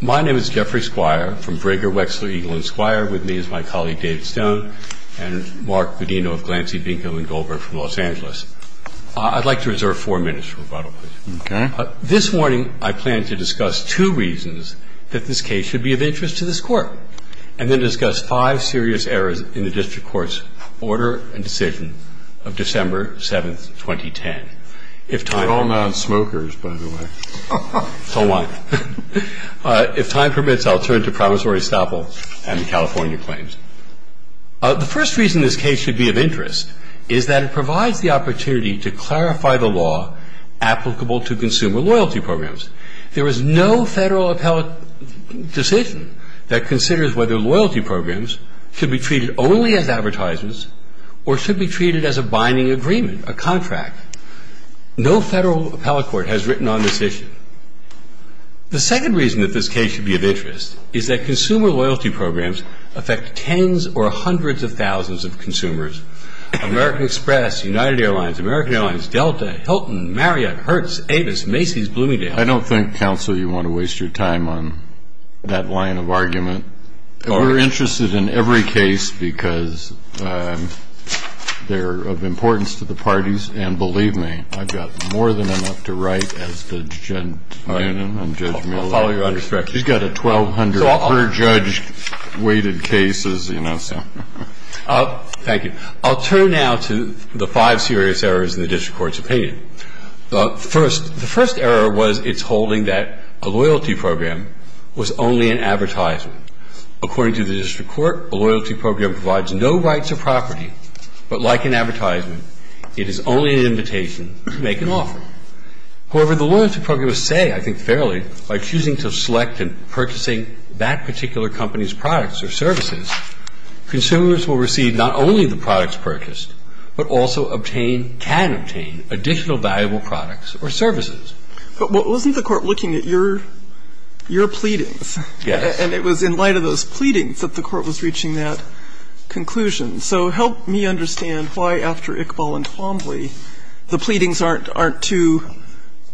My name is Jeffrey Squire from Brigger, Wexler, Eagle, and Squire, with me is my colleague David Stone and Mark Bedino of Glancy, Binkham, and Goldberg from Los Angeles. I'd like to reserve four minutes for rebuttal. This morning I plan to discuss two reasons that this case should be of interest to this Court, and then discuss five serious errors in the District Court's order and decision of December 7th, 2010. We're all non-smokers, by the way. So am I. If time permits, I'll turn to Promissory Staple and the California claims. The first reason this case should be of interest is that it provides the opportunity to clarify the law applicable to consumer loyalty programs. There is no Federal appellate decision that considers whether loyalty programs should be treated only as advertisements or should be treated as a binding agreement, a contract. No Federal appellate court has written on this issue. The second reason that this case should be of interest is that consumer loyalty programs affect tens or hundreds of thousands of consumers. American Express, United Airlines, American Airlines, Delta, Hilton, Marriott, Hertz, Avis, Macy's, Bloomingdale. I don't think, Counsel, you want to waste your time on that line of argument. We're interested in every case because they're of importance to the parties and And we're interested in every case because they're of importance to the parties and the consumers. And believe me, I've got more than enough to write as Judge Moonen and Judge Miller. I'll follow your understanding. He's got 1,200 per-judge weighted cases, you know, so. Thank you. I'll turn now to the five serious errors in the district court's opinion. The first error was its holding that a loyalty program was only an advertisement. According to the district court, a loyalty program provides no rights or property, but like an advertisement, it is only an invitation to make an offer. However, the loyalty programs say, I think fairly, by choosing to select and purchasing that particular company's products or services, consumers will receive not only the products purchased, but also obtain, can obtain additional valuable products or services. But wasn't the Court looking at your pleadings? Yes. And it was in light of those pleadings that the Court was reaching that conclusion. So help me understand why, after Iqbal and Twombly, the pleadings aren't too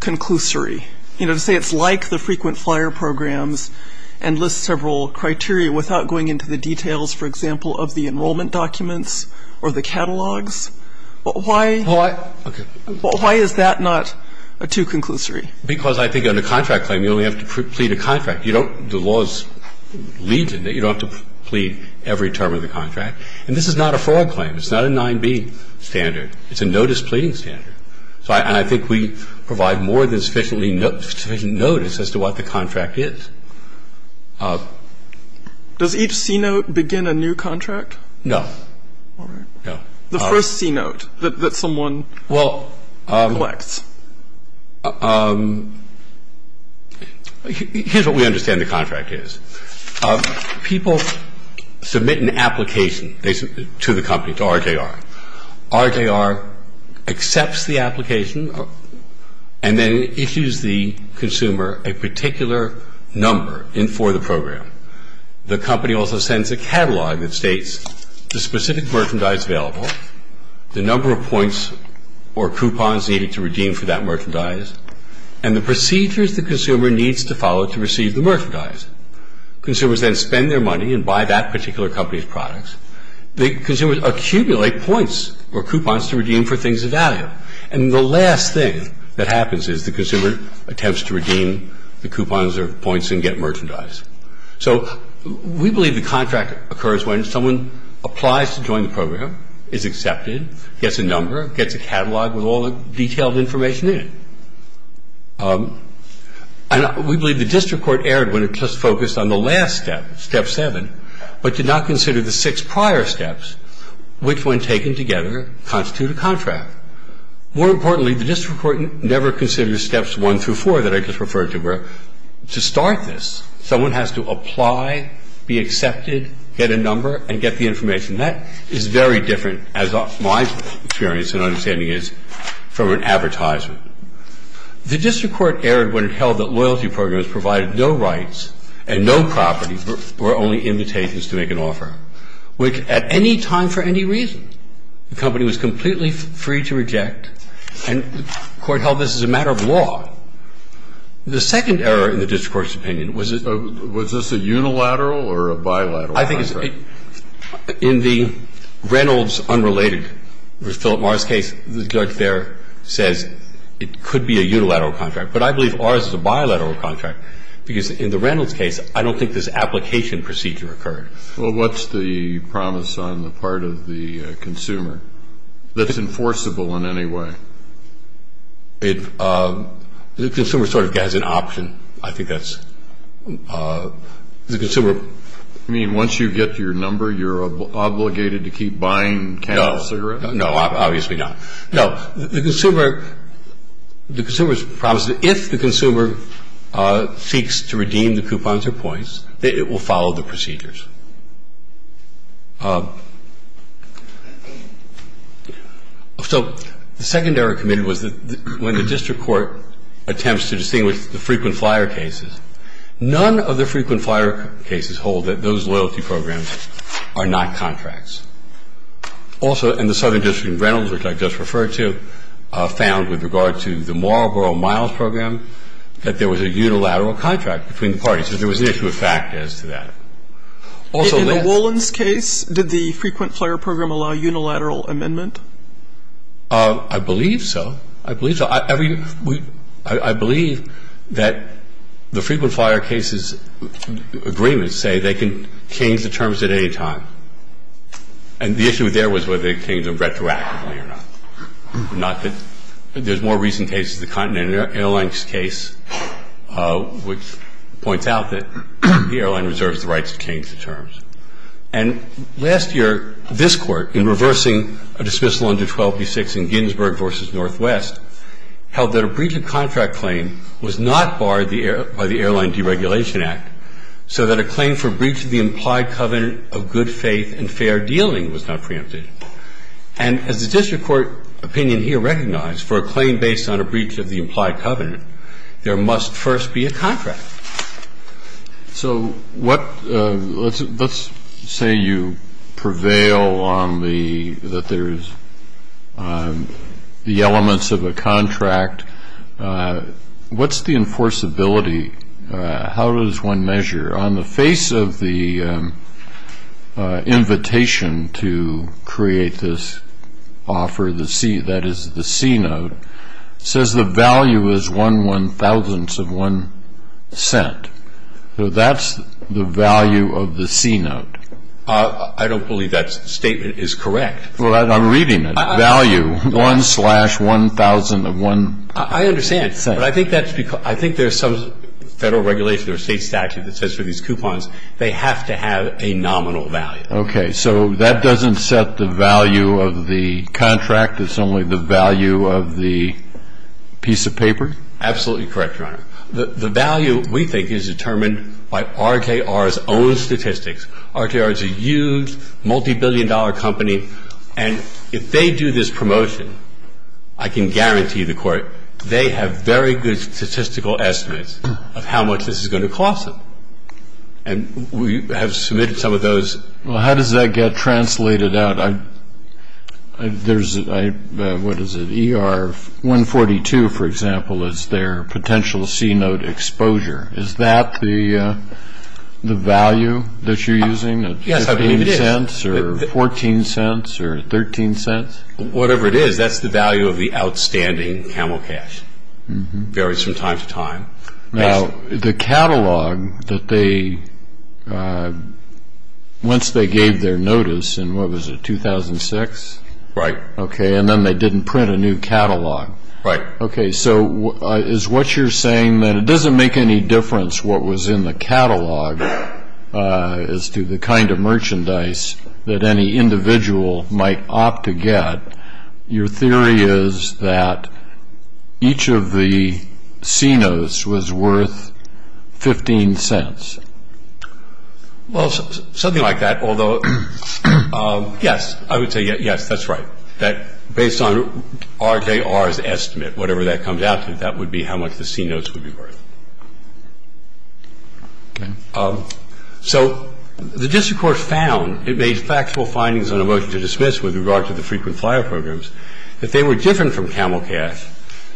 conclusory. You know, to say it's like the frequent flyer programs and lists several criteria without going into the details, for example, of the enrollment documents or the catalogs, why is that not too conclusory? Because I think on a contract claim, you only have to plead a contract. You don't, the laws lead to that. You don't have to plead every term of the contract. And this is not a fraud claim. It's not a 9B standard. It's a notice pleading standard. So I think we provide more than sufficient notice as to what the contract is. Does each C-note begin a new contract? No. All right. No. The first C-note that someone collects. Well, here's what we understand the contract is. People submit an application to the company, to RJR. RJR accepts the application and then issues the consumer a particular number for the program. The company also sends a catalog that states the specific merchandise available, the number of points or coupons needed to redeem for that merchandise, and the procedures the consumer needs to follow to receive the merchandise. Consumers then spend their money and buy that particular company's products. The consumers accumulate points or coupons to redeem for things of value. And the last thing that happens is the consumer attempts to redeem the coupons or points and get merchandise. So we believe the contract occurs when someone applies to join the program, is accepted, gets a number, gets a catalog with all the detailed information in it. And we believe the district court erred when it just focused on the last step, Step 7, but did not consider the six prior steps, which, when taken together, constitute a contract. More importantly, the district court never considered Steps 1 through 4 that I just referred to, where to start this, someone has to apply, be accepted, get a number, and get the information. That is very different, as my experience and understanding is, from an advertiser. The district court erred when it held that loyalty programs provided no rights and no properties were only invitations to make an offer, which, at any time for any reason, the company was completely free to reject. And the Court held this as a matter of law. The second error in the district court's opinion was that this was a unilateral or a bilateral contract. I think it's a – in the Reynolds unrelated with Philip Morris case, the judge there says it could be a unilateral contract. But I believe ours is a bilateral contract because, in the Reynolds case, I don't think this application procedure occurred. Well, what's the promise on the part of the consumer that's enforceable in any way? It – the consumer sort of has an option. I think that's – the consumer – You mean once you get your number, you're obligated to keep buying cannabis cigarettes? No. No, obviously not. No. The consumer – the consumer's promise is if the consumer seeks to redeem the coupons or points, it will follow the procedures. So the second error committed was that when the district court attempts to distinguish the frequent flyer cases, none of the frequent flyer cases hold that those loyalty programs are not contracts. Also, in the Southern District in Reynolds, which I just referred to, found with regard to the Marlboro Miles program that there was a unilateral contract between the parties. So there was an issue of fact as to that. Also, then.. In the Wolins case, did the frequent flyer program allow unilateral amendment? I believe so. I believe so. I believe that the frequent flyer cases agreements say they can change the terms at any time. And the issue there was whether they changed them retroactively or not. Not that.. There's more recent cases. The Continental Airlines case, which points out that the airline reserves the rights to change the terms. And last year, this court, in reversing a dismissal under 1286 in Ginsburg v. Northwest, held that a breach of contract claim was not barred by the Airline Deregulation Act, so that a claim for breach of the implied covenant of good faith and fair dealing was not preempted. And as the district court opinion here recognized, for a claim based on a breach of the implied covenant, there must first be a contract. So what.. Let's say you prevail on the.. That there's the elements of a contract. What's the enforceability? How does one measure? On the face of the invitation to create this offer, the C, that is the C note, says the value is one one-thousandth of one cent. So that's the value of the C note. I don't believe that statement is correct. Well, I'm reading it. One slash one thousandth of one. I understand. But I think there's some federal regulation or state statute that says for these coupons they have to have a nominal value. Okay. So that doesn't set the value of the contract? It's only the value of the piece of paper? Absolutely correct, Your Honor. The value, we think, is determined by RKR's own statistics. RKR is a huge, multibillion-dollar company. And if they do this promotion, I can guarantee the court, they have very good statistical estimates of how much this is going to cost them. And we have submitted some of those. Well, how does that get translated out? There's, what is it, ER 142, for example, is their potential C note exposure. Is that the value that you're using? Yes, I believe it is. 14 cents or 13 cents? Whatever it is, that's the value of the outstanding camel cash. It varies from time to time. Now, the catalog that they, once they gave their notice in, what was it, 2006? Right. Okay. And then they didn't print a new catalog. Right. Okay. So is what you're saying that it doesn't make any difference what was in the catalog as to the kind of merchandise that any individual might opt to get? Your theory is that each of the C notes was worth 15 cents. Well, something like that, although, yes, I would say, yes, that's right. Based on RKR's estimate, whatever that comes out to, that would be how much the C notes would be worth. Okay. So the district court found, it made factual findings on a motion to dismiss with regard to the frequent flyer programs, that they were different from camel cash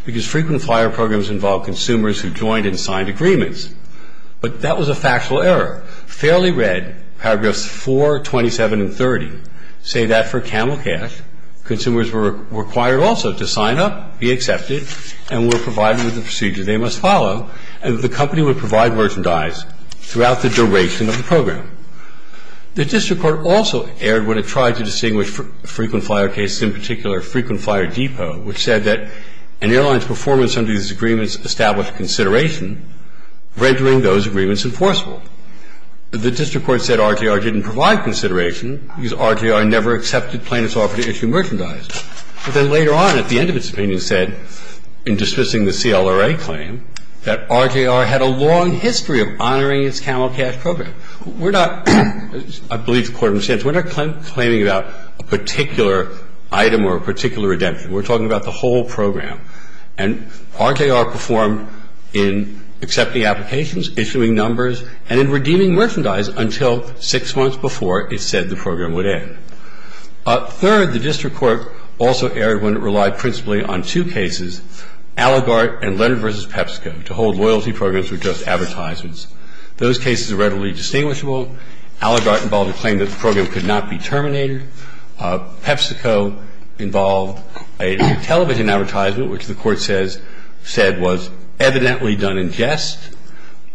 because frequent flyer programs involve consumers who joined and signed agreements. But that was a factual error. Fairly read, paragraphs 4, 27, and 30 say that for camel cash, consumers were required also to sign up, be accepted, and were provided with the procedure they must follow, and that the company would provide merchandise throughout the duration of the program. The district court also erred when it tried to distinguish frequent flyer cases, in particular, Frequent Flyer Depot, which said that an airline's performance under these agreements established consideration, rendering those agreements enforceable. The district court said RKR didn't provide consideration because RKR never accepted plaintiffs' offer to issue merchandise. But then later on, at the end of its opinion, said, in dismissing the CLRA claim, that RKR had a long history of honoring its camel cash program. We're not, I believe the Court understands, we're not claiming about a particular item or a particular redemption. We're talking about the whole program. And RKR performed in accepting applications, issuing numbers, and in redeeming merchandise until six months before it said the program would end. Third, the district court also erred when it relied principally on two cases, Allagart and Leonard v. PepsiCo, to hold loyalty programs or just advertisements. Those cases are readily distinguishable. Allagart involved a claim that the program could not be terminated. PepsiCo involved a television advertisement, which the Court says, said was evidently done in jest.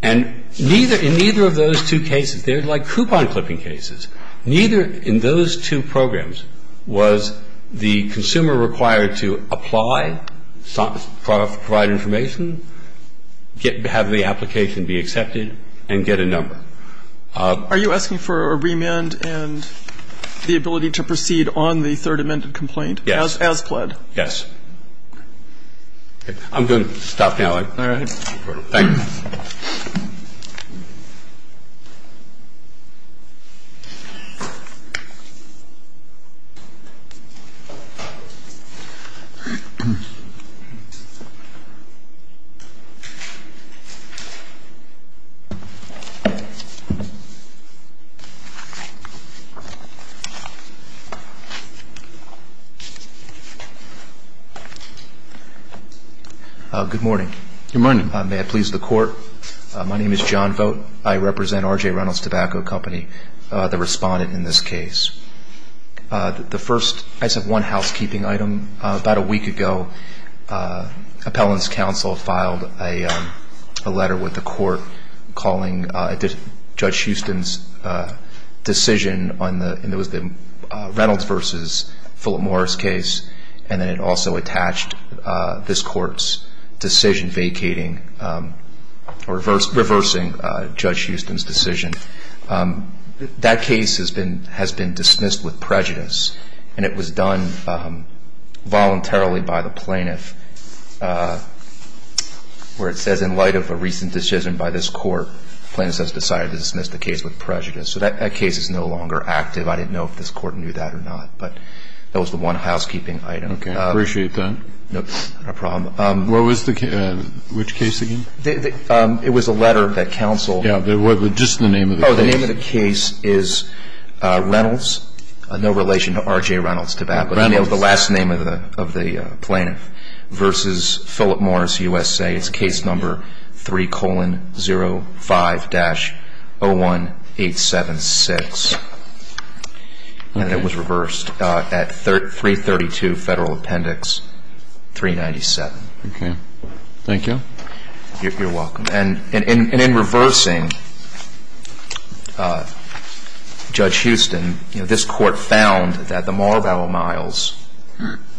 And neither, in neither of those two cases, they were like coupon clipping cases. Neither in those two programs was the consumer required to apply, provide information, get, have the application be accepted, and get a number. Are you asking for a remand and the ability to proceed on the third amended complaint? Yes. As pled? Yes. I'm going to stop now. All right. Thank you. Thank you. Good morning. Good morning. May I please the Court? My name is John Vogt. I represent R.J. Reynolds Tobacco Company, the respondent in this case. The first, I just have one housekeeping item. About a week ago, appellant's counsel filed a letter with the Court calling Judge Houston's decision on the, and it was the Reynolds v. Philip Morris case, and then it also attached this Court's decision vacating, reversing Judge Houston's decision. That case has been dismissed with prejudice, and it was done voluntarily by the plaintiff, where it says, in light of a recent decision by this Court, plaintiff has decided to dismiss the case with prejudice. So that case is no longer active. I didn't know if this Court knew that or not. But that was the one housekeeping item. Okay. I appreciate that. No problem. What was the case? Which case again? It was a letter that counsel. Yeah. Just the name of the case. Oh, the name of the case is Reynolds, no relation to R.J. Reynolds Tobacco. Reynolds. The last name of the plaintiff, versus Philip Morris, USA. It's case number 3-0-5-01876. And it was reversed at 332 Federal Appendix 397. Okay. Thank you. You're welcome. And in reversing Judge Houston, you know, this Court found that the Marlboro Miles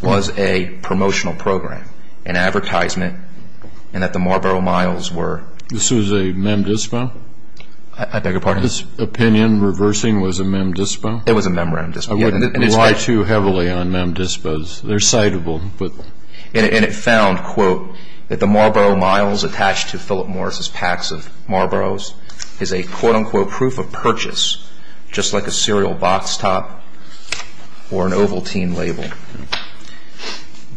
was a promotional program, an advertisement, and that the Marlboro Miles were This was a mem dispo? I beg your pardon? This opinion, reversing, was a mem dispo? It was a mem dispo. I wouldn't rely too heavily on mem dispos. They're citable. And it found, quote, that the Marlboro Miles attached to Philip Morris's packs of Marlboros is a, quote, unquote, proof of purchase, just like a cereal box top or an Ovaltine label.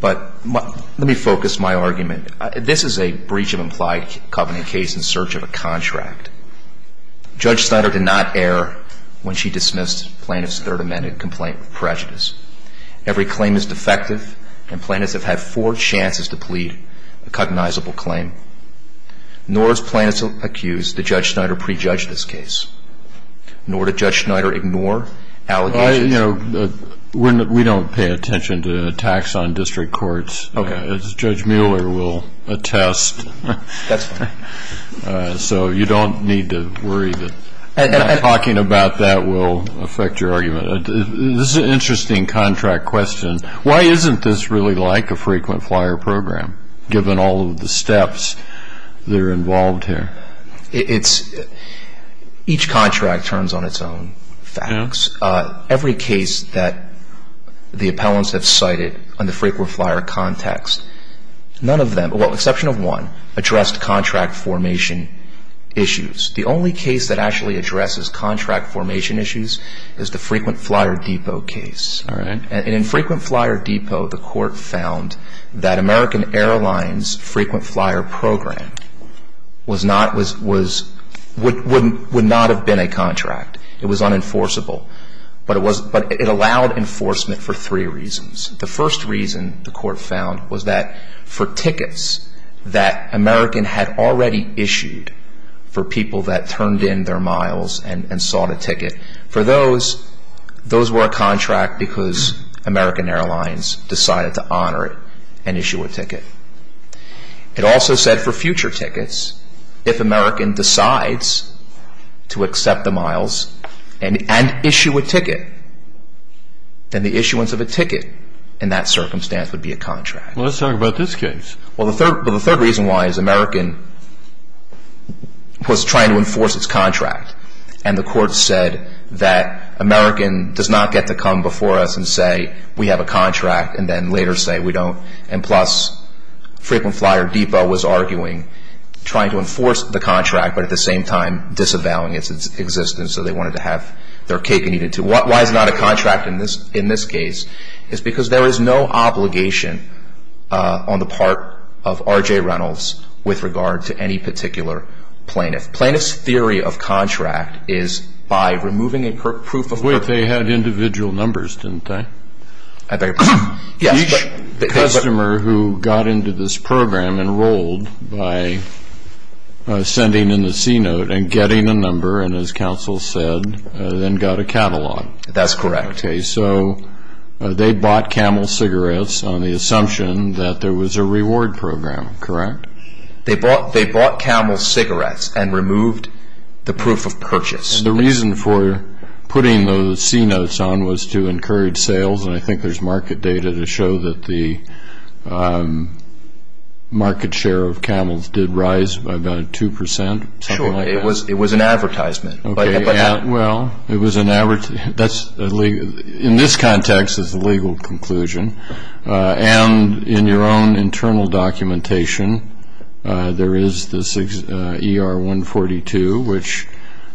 But let me focus my argument. This is a breach of implied covenant case in search of a contract. Judge Schneider did not err when she dismissed plaintiff's Third Amendment complaint of prejudice. Every claim is defective, and plaintiffs have had four chances to plead a cognizable claim. Nor has plaintiffs accused that Judge Schneider prejudged this case. Nor did Judge Schneider ignore allegations. You know, we don't pay attention to attacks on district courts. Okay. As Judge Mueller will attest. That's fine. So you don't need to worry that talking about that will affect your argument. This is an interesting contract question. Why isn't this really like a frequent flyer program, given all of the steps that are involved here? Each contract turns on its own facts. Every case that the appellants have cited under frequent flyer context, none of them address contract formation issues. The only case that actually addresses contract formation issues is the frequent flyer depot case. And in frequent flyer depot, the court found that American Airlines' frequent flyer program would not have been a contract. It was unenforceable. But it allowed enforcement for three reasons. The first reason, the court found, was that for tickets that American had already issued for people that turned in their miles and sought a ticket, for those, those were a contract because American Airlines decided to honor it and issue a ticket. It also said for future tickets, if American decides to accept the miles and issue a ticket, then the issuance of a ticket in that circumstance would be a contract. Well, let's talk about this case. Well, the third reason why is American was trying to enforce its contract. And the court said that American does not get to come before us and say we have a contract and then later say we don't. And plus, frequent flyer depot was arguing trying to enforce the contract but at the end of the day, the court said, well, we have a contract and we're going to have their cake and eat it too. Why is it not a contract in this case? It's because there is no obligation on the part of R.J. Reynolds with regard to any particular plaintiff. Plaintiff's theory of contract is by removing a proof of work. But they had individual numbers, didn't they? I think. Yes. The customer who got into this program enrolled by sending in the C-note and getting a number and, as counsel said, then got a catalog. That's correct. Okay. So they bought Camel cigarettes on the assumption that there was a reward program, correct? They bought Camel cigarettes and removed the proof of purchase. And the reason for putting those C-notes on was to encourage sales, and I think there's market data to show that the market share of Camels did rise by about 2%, something like that. Sure. It was an advertisement. Okay. Well, it was an advertisement. In this context, it's a legal conclusion. And in your own internal documentation, there is this ER-142, which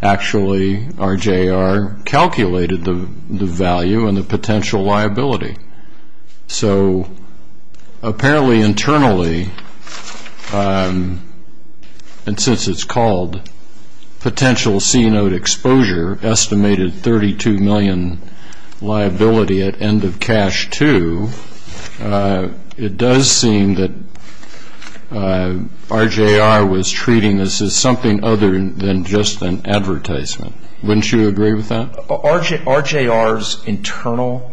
actually R.J. R. calculated the value and the potential liability. So apparently internally, and since it's called potential C-note exposure, estimated $32 million liability at end of cash too, it does seem that R.J. R. was treating this as something other than just an advertisement. Wouldn't you agree with that? R.J. R.'s internal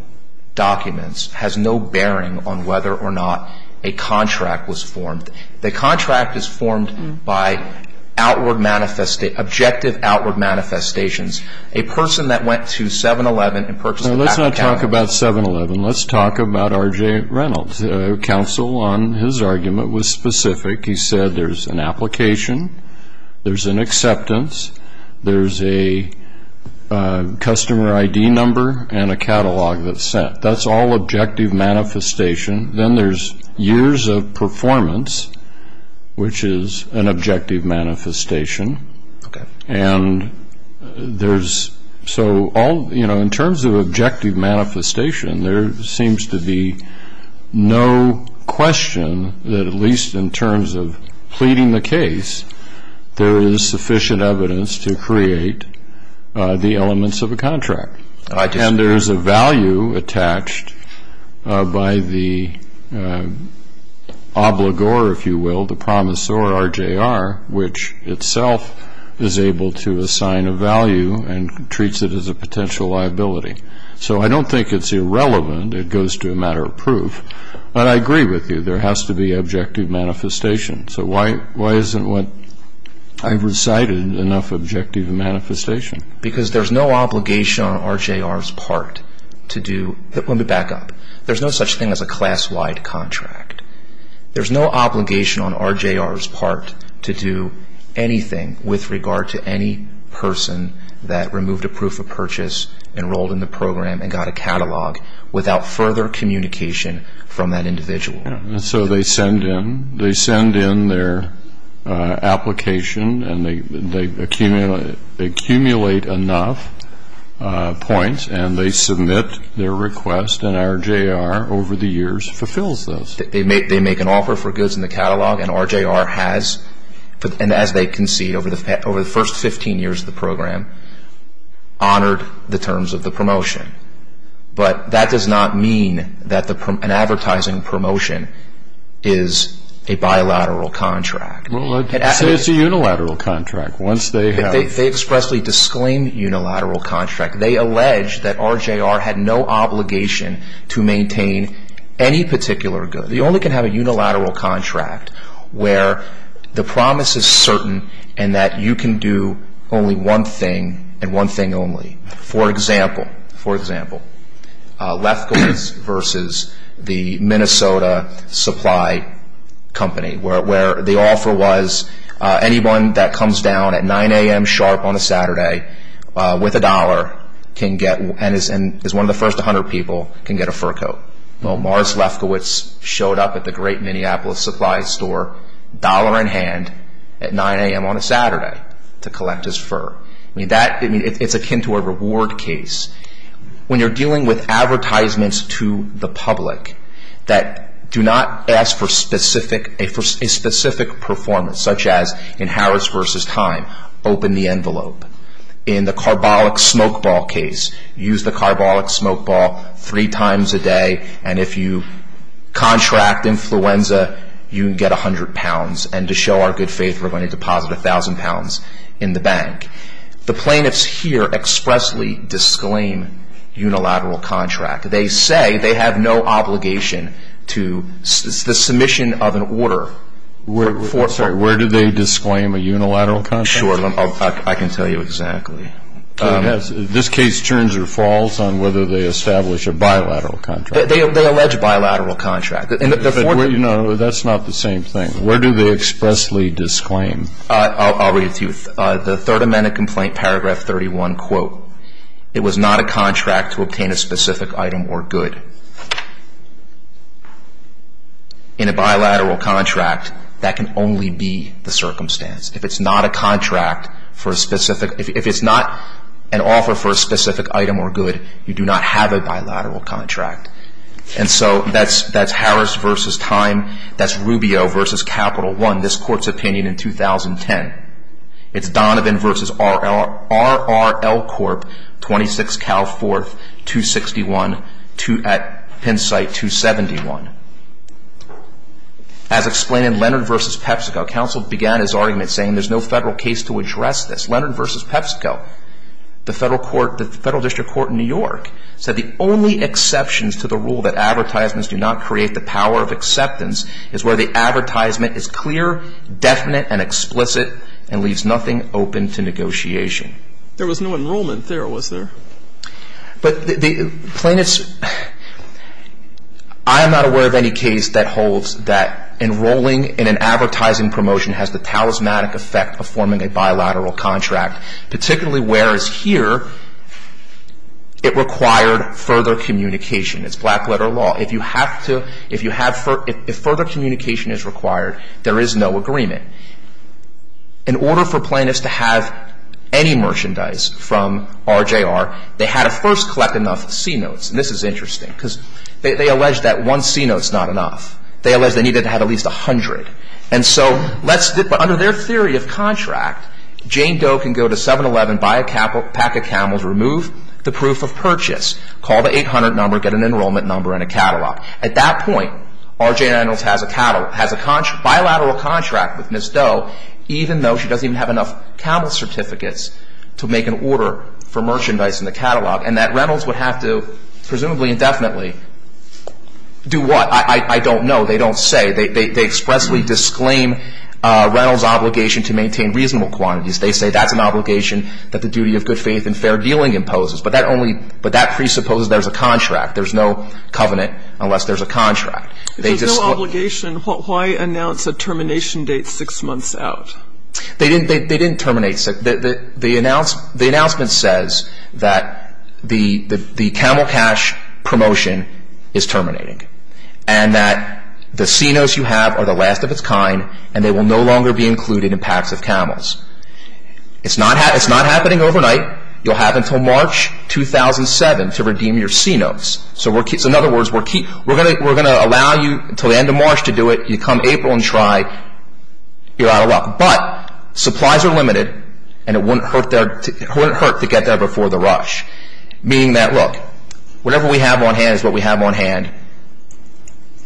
documents has no bearing on whether or not a contract was formed. The contract is formed by outward, objective outward manifestations. A person that went to 7-Eleven and purchased a pack of Camels. Now, let's not talk about 7-Eleven. Let's talk about R.J. Reynolds. Counsel on his argument was specific. He said there's an application, there's an acceptance, there's a customer ID number and a catalog that's sent. That's all objective manifestation. Then there's years of performance, which is an objective manifestation. And there's so all, you know, in terms of objective manifestation, there seems to be no question that at least in terms of pleading the case, there is sufficient evidence to create the elements of a contract. And there's a value attached by the obligor, if you will, the promisor, R.J. R., which itself is able to assign a value and treats it as a potential liability. So I don't think it's irrelevant. It goes to a matter of proof. But I agree with you. There has to be objective manifestation. So why isn't what I've recited enough objective manifestation? Because there's no obligation on R.J. R.'s part to do – let me back up. There's no such thing as a class-wide contract. There's no obligation on R.J. R.'s part to do anything with regard to any person that removed a proof of purchase, enrolled in the program, and got a catalog without further communication from that individual. So they send in their application, and they accumulate enough points, and they submit their request, and R.J. R. over the years fulfills those. They make an offer for goods in the catalog, and R.J. R. has, and as they can see, over the first 15 years of the program, honored the terms of the promotion. But that does not mean that an advertising promotion is a bilateral contract. So it's a unilateral contract. They expressly disclaim unilateral contract. They allege that R.J. R. had no obligation to maintain any particular good. You only can have a unilateral contract where the promise is certain and that you can do only one thing and one thing only. For example, Lefkowitz versus the Minnesota Supply Company, where the offer was anyone that comes down at 9 a.m. sharp on a Saturday with a dollar and is one of the first 100 people can get a fur coat. Well, Mars Lefkowitz showed up at the great Minneapolis supply store, dollar in hand, at 9 a.m. on a Saturday to collect his fur. It's akin to a reward case. When you're dealing with advertisements to the public that do not ask for a specific performance, such as in Harris versus Time, open the envelope. In the carbolic smokeball case, use the carbolic smokeball three times a day, and if you contract influenza, you can get 100 pounds, and to show our good faith, we're going to deposit 1,000 pounds in the bank. The plaintiffs here expressly disclaim unilateral contract. They say they have no obligation to the submission of an order. I'm sorry. Where do they disclaim a unilateral contract? I can tell you exactly. This case turns or falls on whether they establish a bilateral contract. They allege bilateral contract. That's not the same thing. Where do they expressly disclaim? I'll read it to you. The Third Amendment Complaint, Paragraph 31, quote, it was not a contract to obtain a specific item or good. In a bilateral contract, that can only be the circumstance. If it's not a contract for a specific, if it's not an offer for a specific item or good, you do not have a bilateral contract. And so that's Harris v. Time. That's Rubio v. Capital One, this Court's opinion in 2010. It's Donovan v. RRL Corp., 26 Cal 4th, 261 at Pennsite 271. As explained in Leonard v. PepsiCo, counsel began his argument saying there's no federal case to address this. Leonard v. PepsiCo, the federal court, the federal district court in New York, said the only exceptions to the rule that advertisements do not create the power of acceptance is where the advertisement is clear, definite, and explicit and leaves nothing open to negotiation. There was no enrollment there, was there? But the plaintiffs, I am not aware of any case that holds that enrolling in an advertising promotion has the talismanic effect of forming a bilateral contract, particularly whereas here it required further communication. It's black-letter law. If further communication is required, there is no agreement. In order for plaintiffs to have any merchandise from RJR, they had to first collect enough C-notes. And this is interesting because they allege that one C-note is not enough. They allege they needed to have at least 100. And so under their theory of contract, Jane Doe can go to 7-Eleven, buy a pack of camels, remove the proof of purchase, call the 800 number, get an enrollment number and a catalog. At that point, RJR has a bilateral contract with Ms. Doe, even though she doesn't even have enough camel certificates to make an order for merchandise in the catalog and that Reynolds would have to presumably indefinitely do what? I don't know. They don't say. They expressly disclaim Reynolds' obligation to maintain reasonable quantities. They say that's an obligation that the duty of good faith and fair dealing imposes. But that presupposes there's a contract. There's no covenant unless there's a contract. If there's no obligation, why announce a termination date six months out? They didn't terminate. The announcement says that the camel cash promotion is terminating and that the C-Notes you have are the last of its kind and they will no longer be included in packs of camels. It's not happening overnight. You'll have until March 2007 to redeem your C-Notes. So in other words, we're going to allow you until the end of March to do it. You come April and try, you're out of luck. But supplies are limited and it wouldn't hurt to get there before the rush. Meaning that, look, whatever we have on hand is what we have on hand.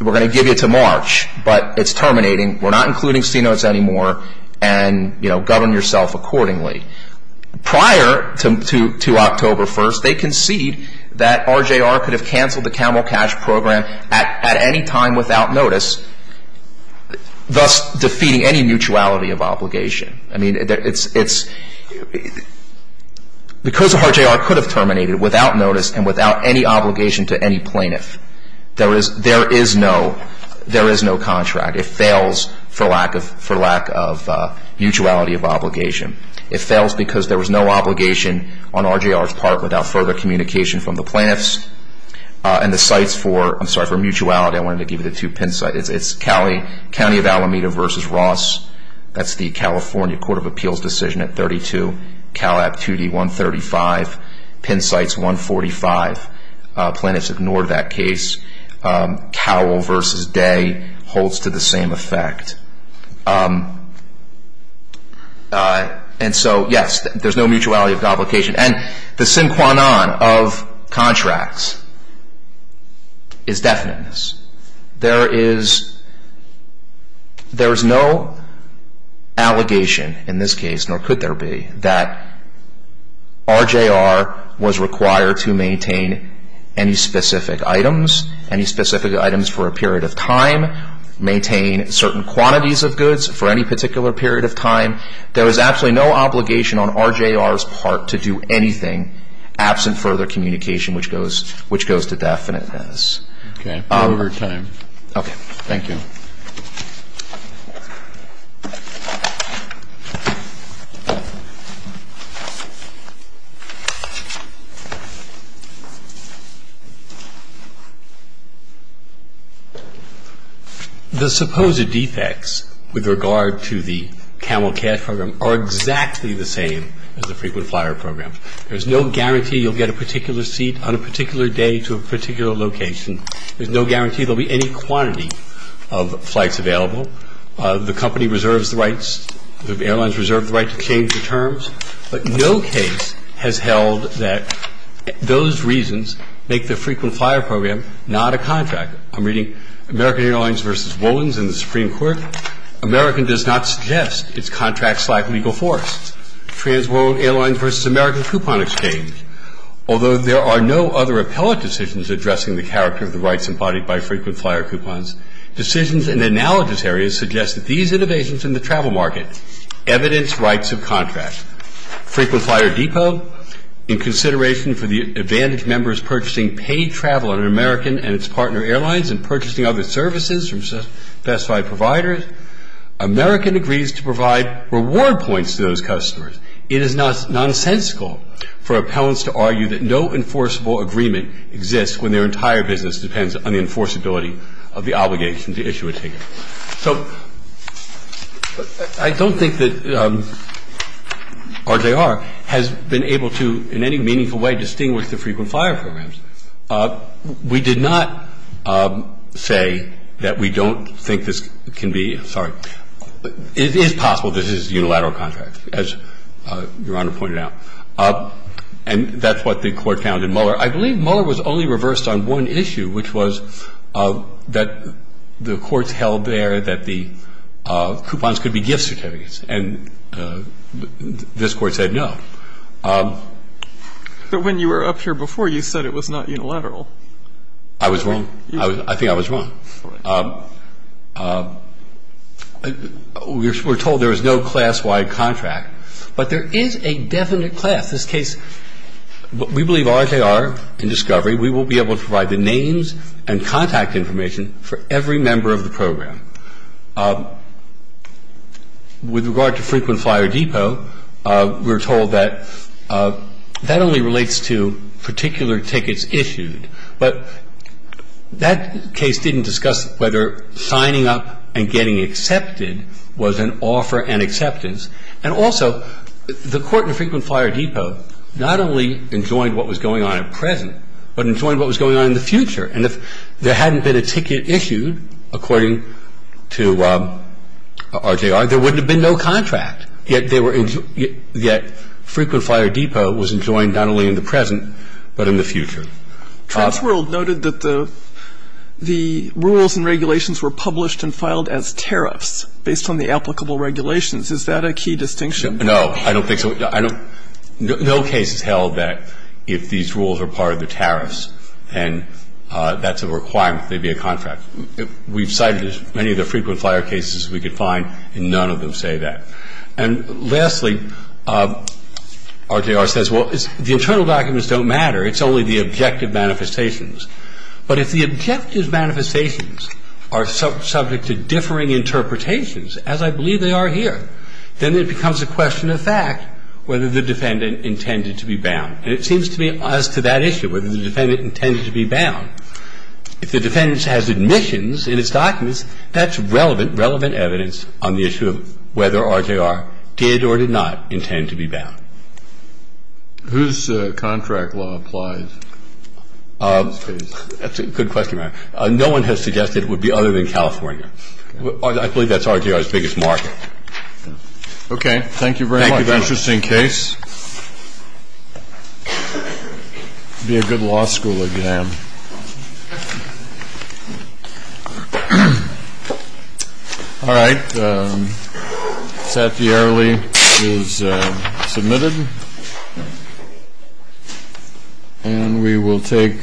We're going to give you to March, but it's terminating. We're not including C-Notes anymore and govern yourself accordingly. Prior to October 1st, they concede that RJR could have canceled the camel cash program at any time without notice, thus defeating any mutuality of obligation. I mean, because RJR could have terminated without notice and without any obligation to any plaintiff, there is no contract. It fails for lack of mutuality of obligation. It fails because there was no obligation on RJR's part without further communication from the plaintiffs and the sites for, I'm sorry, for mutuality, I wanted to give you the two pin sites. It's County of Alameda versus Ross. That's the California Court of Appeals decision at 32. Calab 2D, 135. Pin sites, 145. Plaintiffs ignored that case. Cowell versus Day holds to the same effect. And so, yes, there's no mutuality of obligation. And the sine qua non of contracts is definiteness. There is no allegation in this case, nor could there be, that RJR was required to maintain any specific items, any specific items for a period of time, maintain certain quantities of goods for any particular period of time. There was absolutely no obligation on RJR's part to do anything absent further communication, which goes to definiteness. Okay. Over time. Okay. Thank you. The supposed defects with regard to the Camel Cash Program are exactly the same as the frequent flyer program. There's no guarantee you'll get a particular seat on a particular day to a particular location. There's no guarantee there will be any quantity of flights available. The company reserves the rights. The airlines reserve the right to change the terms. But no case has held that those reasons make the frequent flyer program not a contract. I'm reading American Airlines v. Wolins and the Supreme Court. American does not suggest its contracts lack legal force. Transworld Airlines v. American Coupon Exchange. Although there are no other appellate decisions addressing the character of the rights embodied by frequent flyer coupons, decisions in analogous areas suggest that these innovations in the travel market evidence rights of contract. Frequent Flyer Depot, in consideration for the advantage members purchasing paid travel on American and its partner airlines and purchasing other services from specified providers, American agrees to provide reward points to those customers. It is nonsensical for appellants to argue that no enforceable agreement exists when their entire business depends on the enforceability of the obligation to issue a ticket. So I don't think that RJR has been able to, in any meaningful way, distinguish the frequent flyer programs. We did not say that we don't think this can be, sorry, it is possible that this is a unilateral contract, as Your Honor pointed out. And that's what the Court found in Mueller. I believe Mueller was only reversed on one issue, which was that the courts held there that the coupons could be gift certificates. And this Court said no. But when you were up here before, you said it was not unilateral. I was wrong. I think I was wrong. We're told there is no class-wide contract. But there is a definite class. This case, we believe RJR and Discovery, we will be able to provide the names and contact information for every member of the program. With regard to Frequent Flyer Depot, we're told that that only relates to particular tickets issued. But that case didn't discuss whether signing up and getting accepted was an offer and acceptance. And also, the Court in Frequent Flyer Depot not only enjoined what was going on at present, but enjoined what was going on in the future. And if there hadn't been a ticket issued, according to RJR, there wouldn't have been no contract. Yet Frequent Flyer Depot was enjoined not only in the present, but in the future. Transworld noted that the rules and regulations were published and filed as tariffs based on the applicable regulations. Is that a key distinction? No. I don't think so. No case has held that if these rules are part of the tariffs and that's a requirement, they'd be a contract. We've cited many of the Frequent Flyer cases we could find, and none of them say that. And lastly, RJR says, well, the internal documents don't matter. It's only the objective manifestations. But if the objective manifestations are subject to differing interpretations, as I believe they are here, then it becomes a question of fact whether the defendant intended to be bound. And it seems to me as to that issue, whether the defendant intended to be bound, if the defendant has admissions in his documents, that's relevant, relevant evidence on the issue of whether RJR did or did not intend to be bound. Whose contract law applies in this case? That's a good question, Matt. No one has suggested it would be other than California. I believe that's RJR's biggest market. Okay. Thank you very much. Thank you. Interesting case. It would be a good law school exam. All right. I think that the early is submitted. And we will take.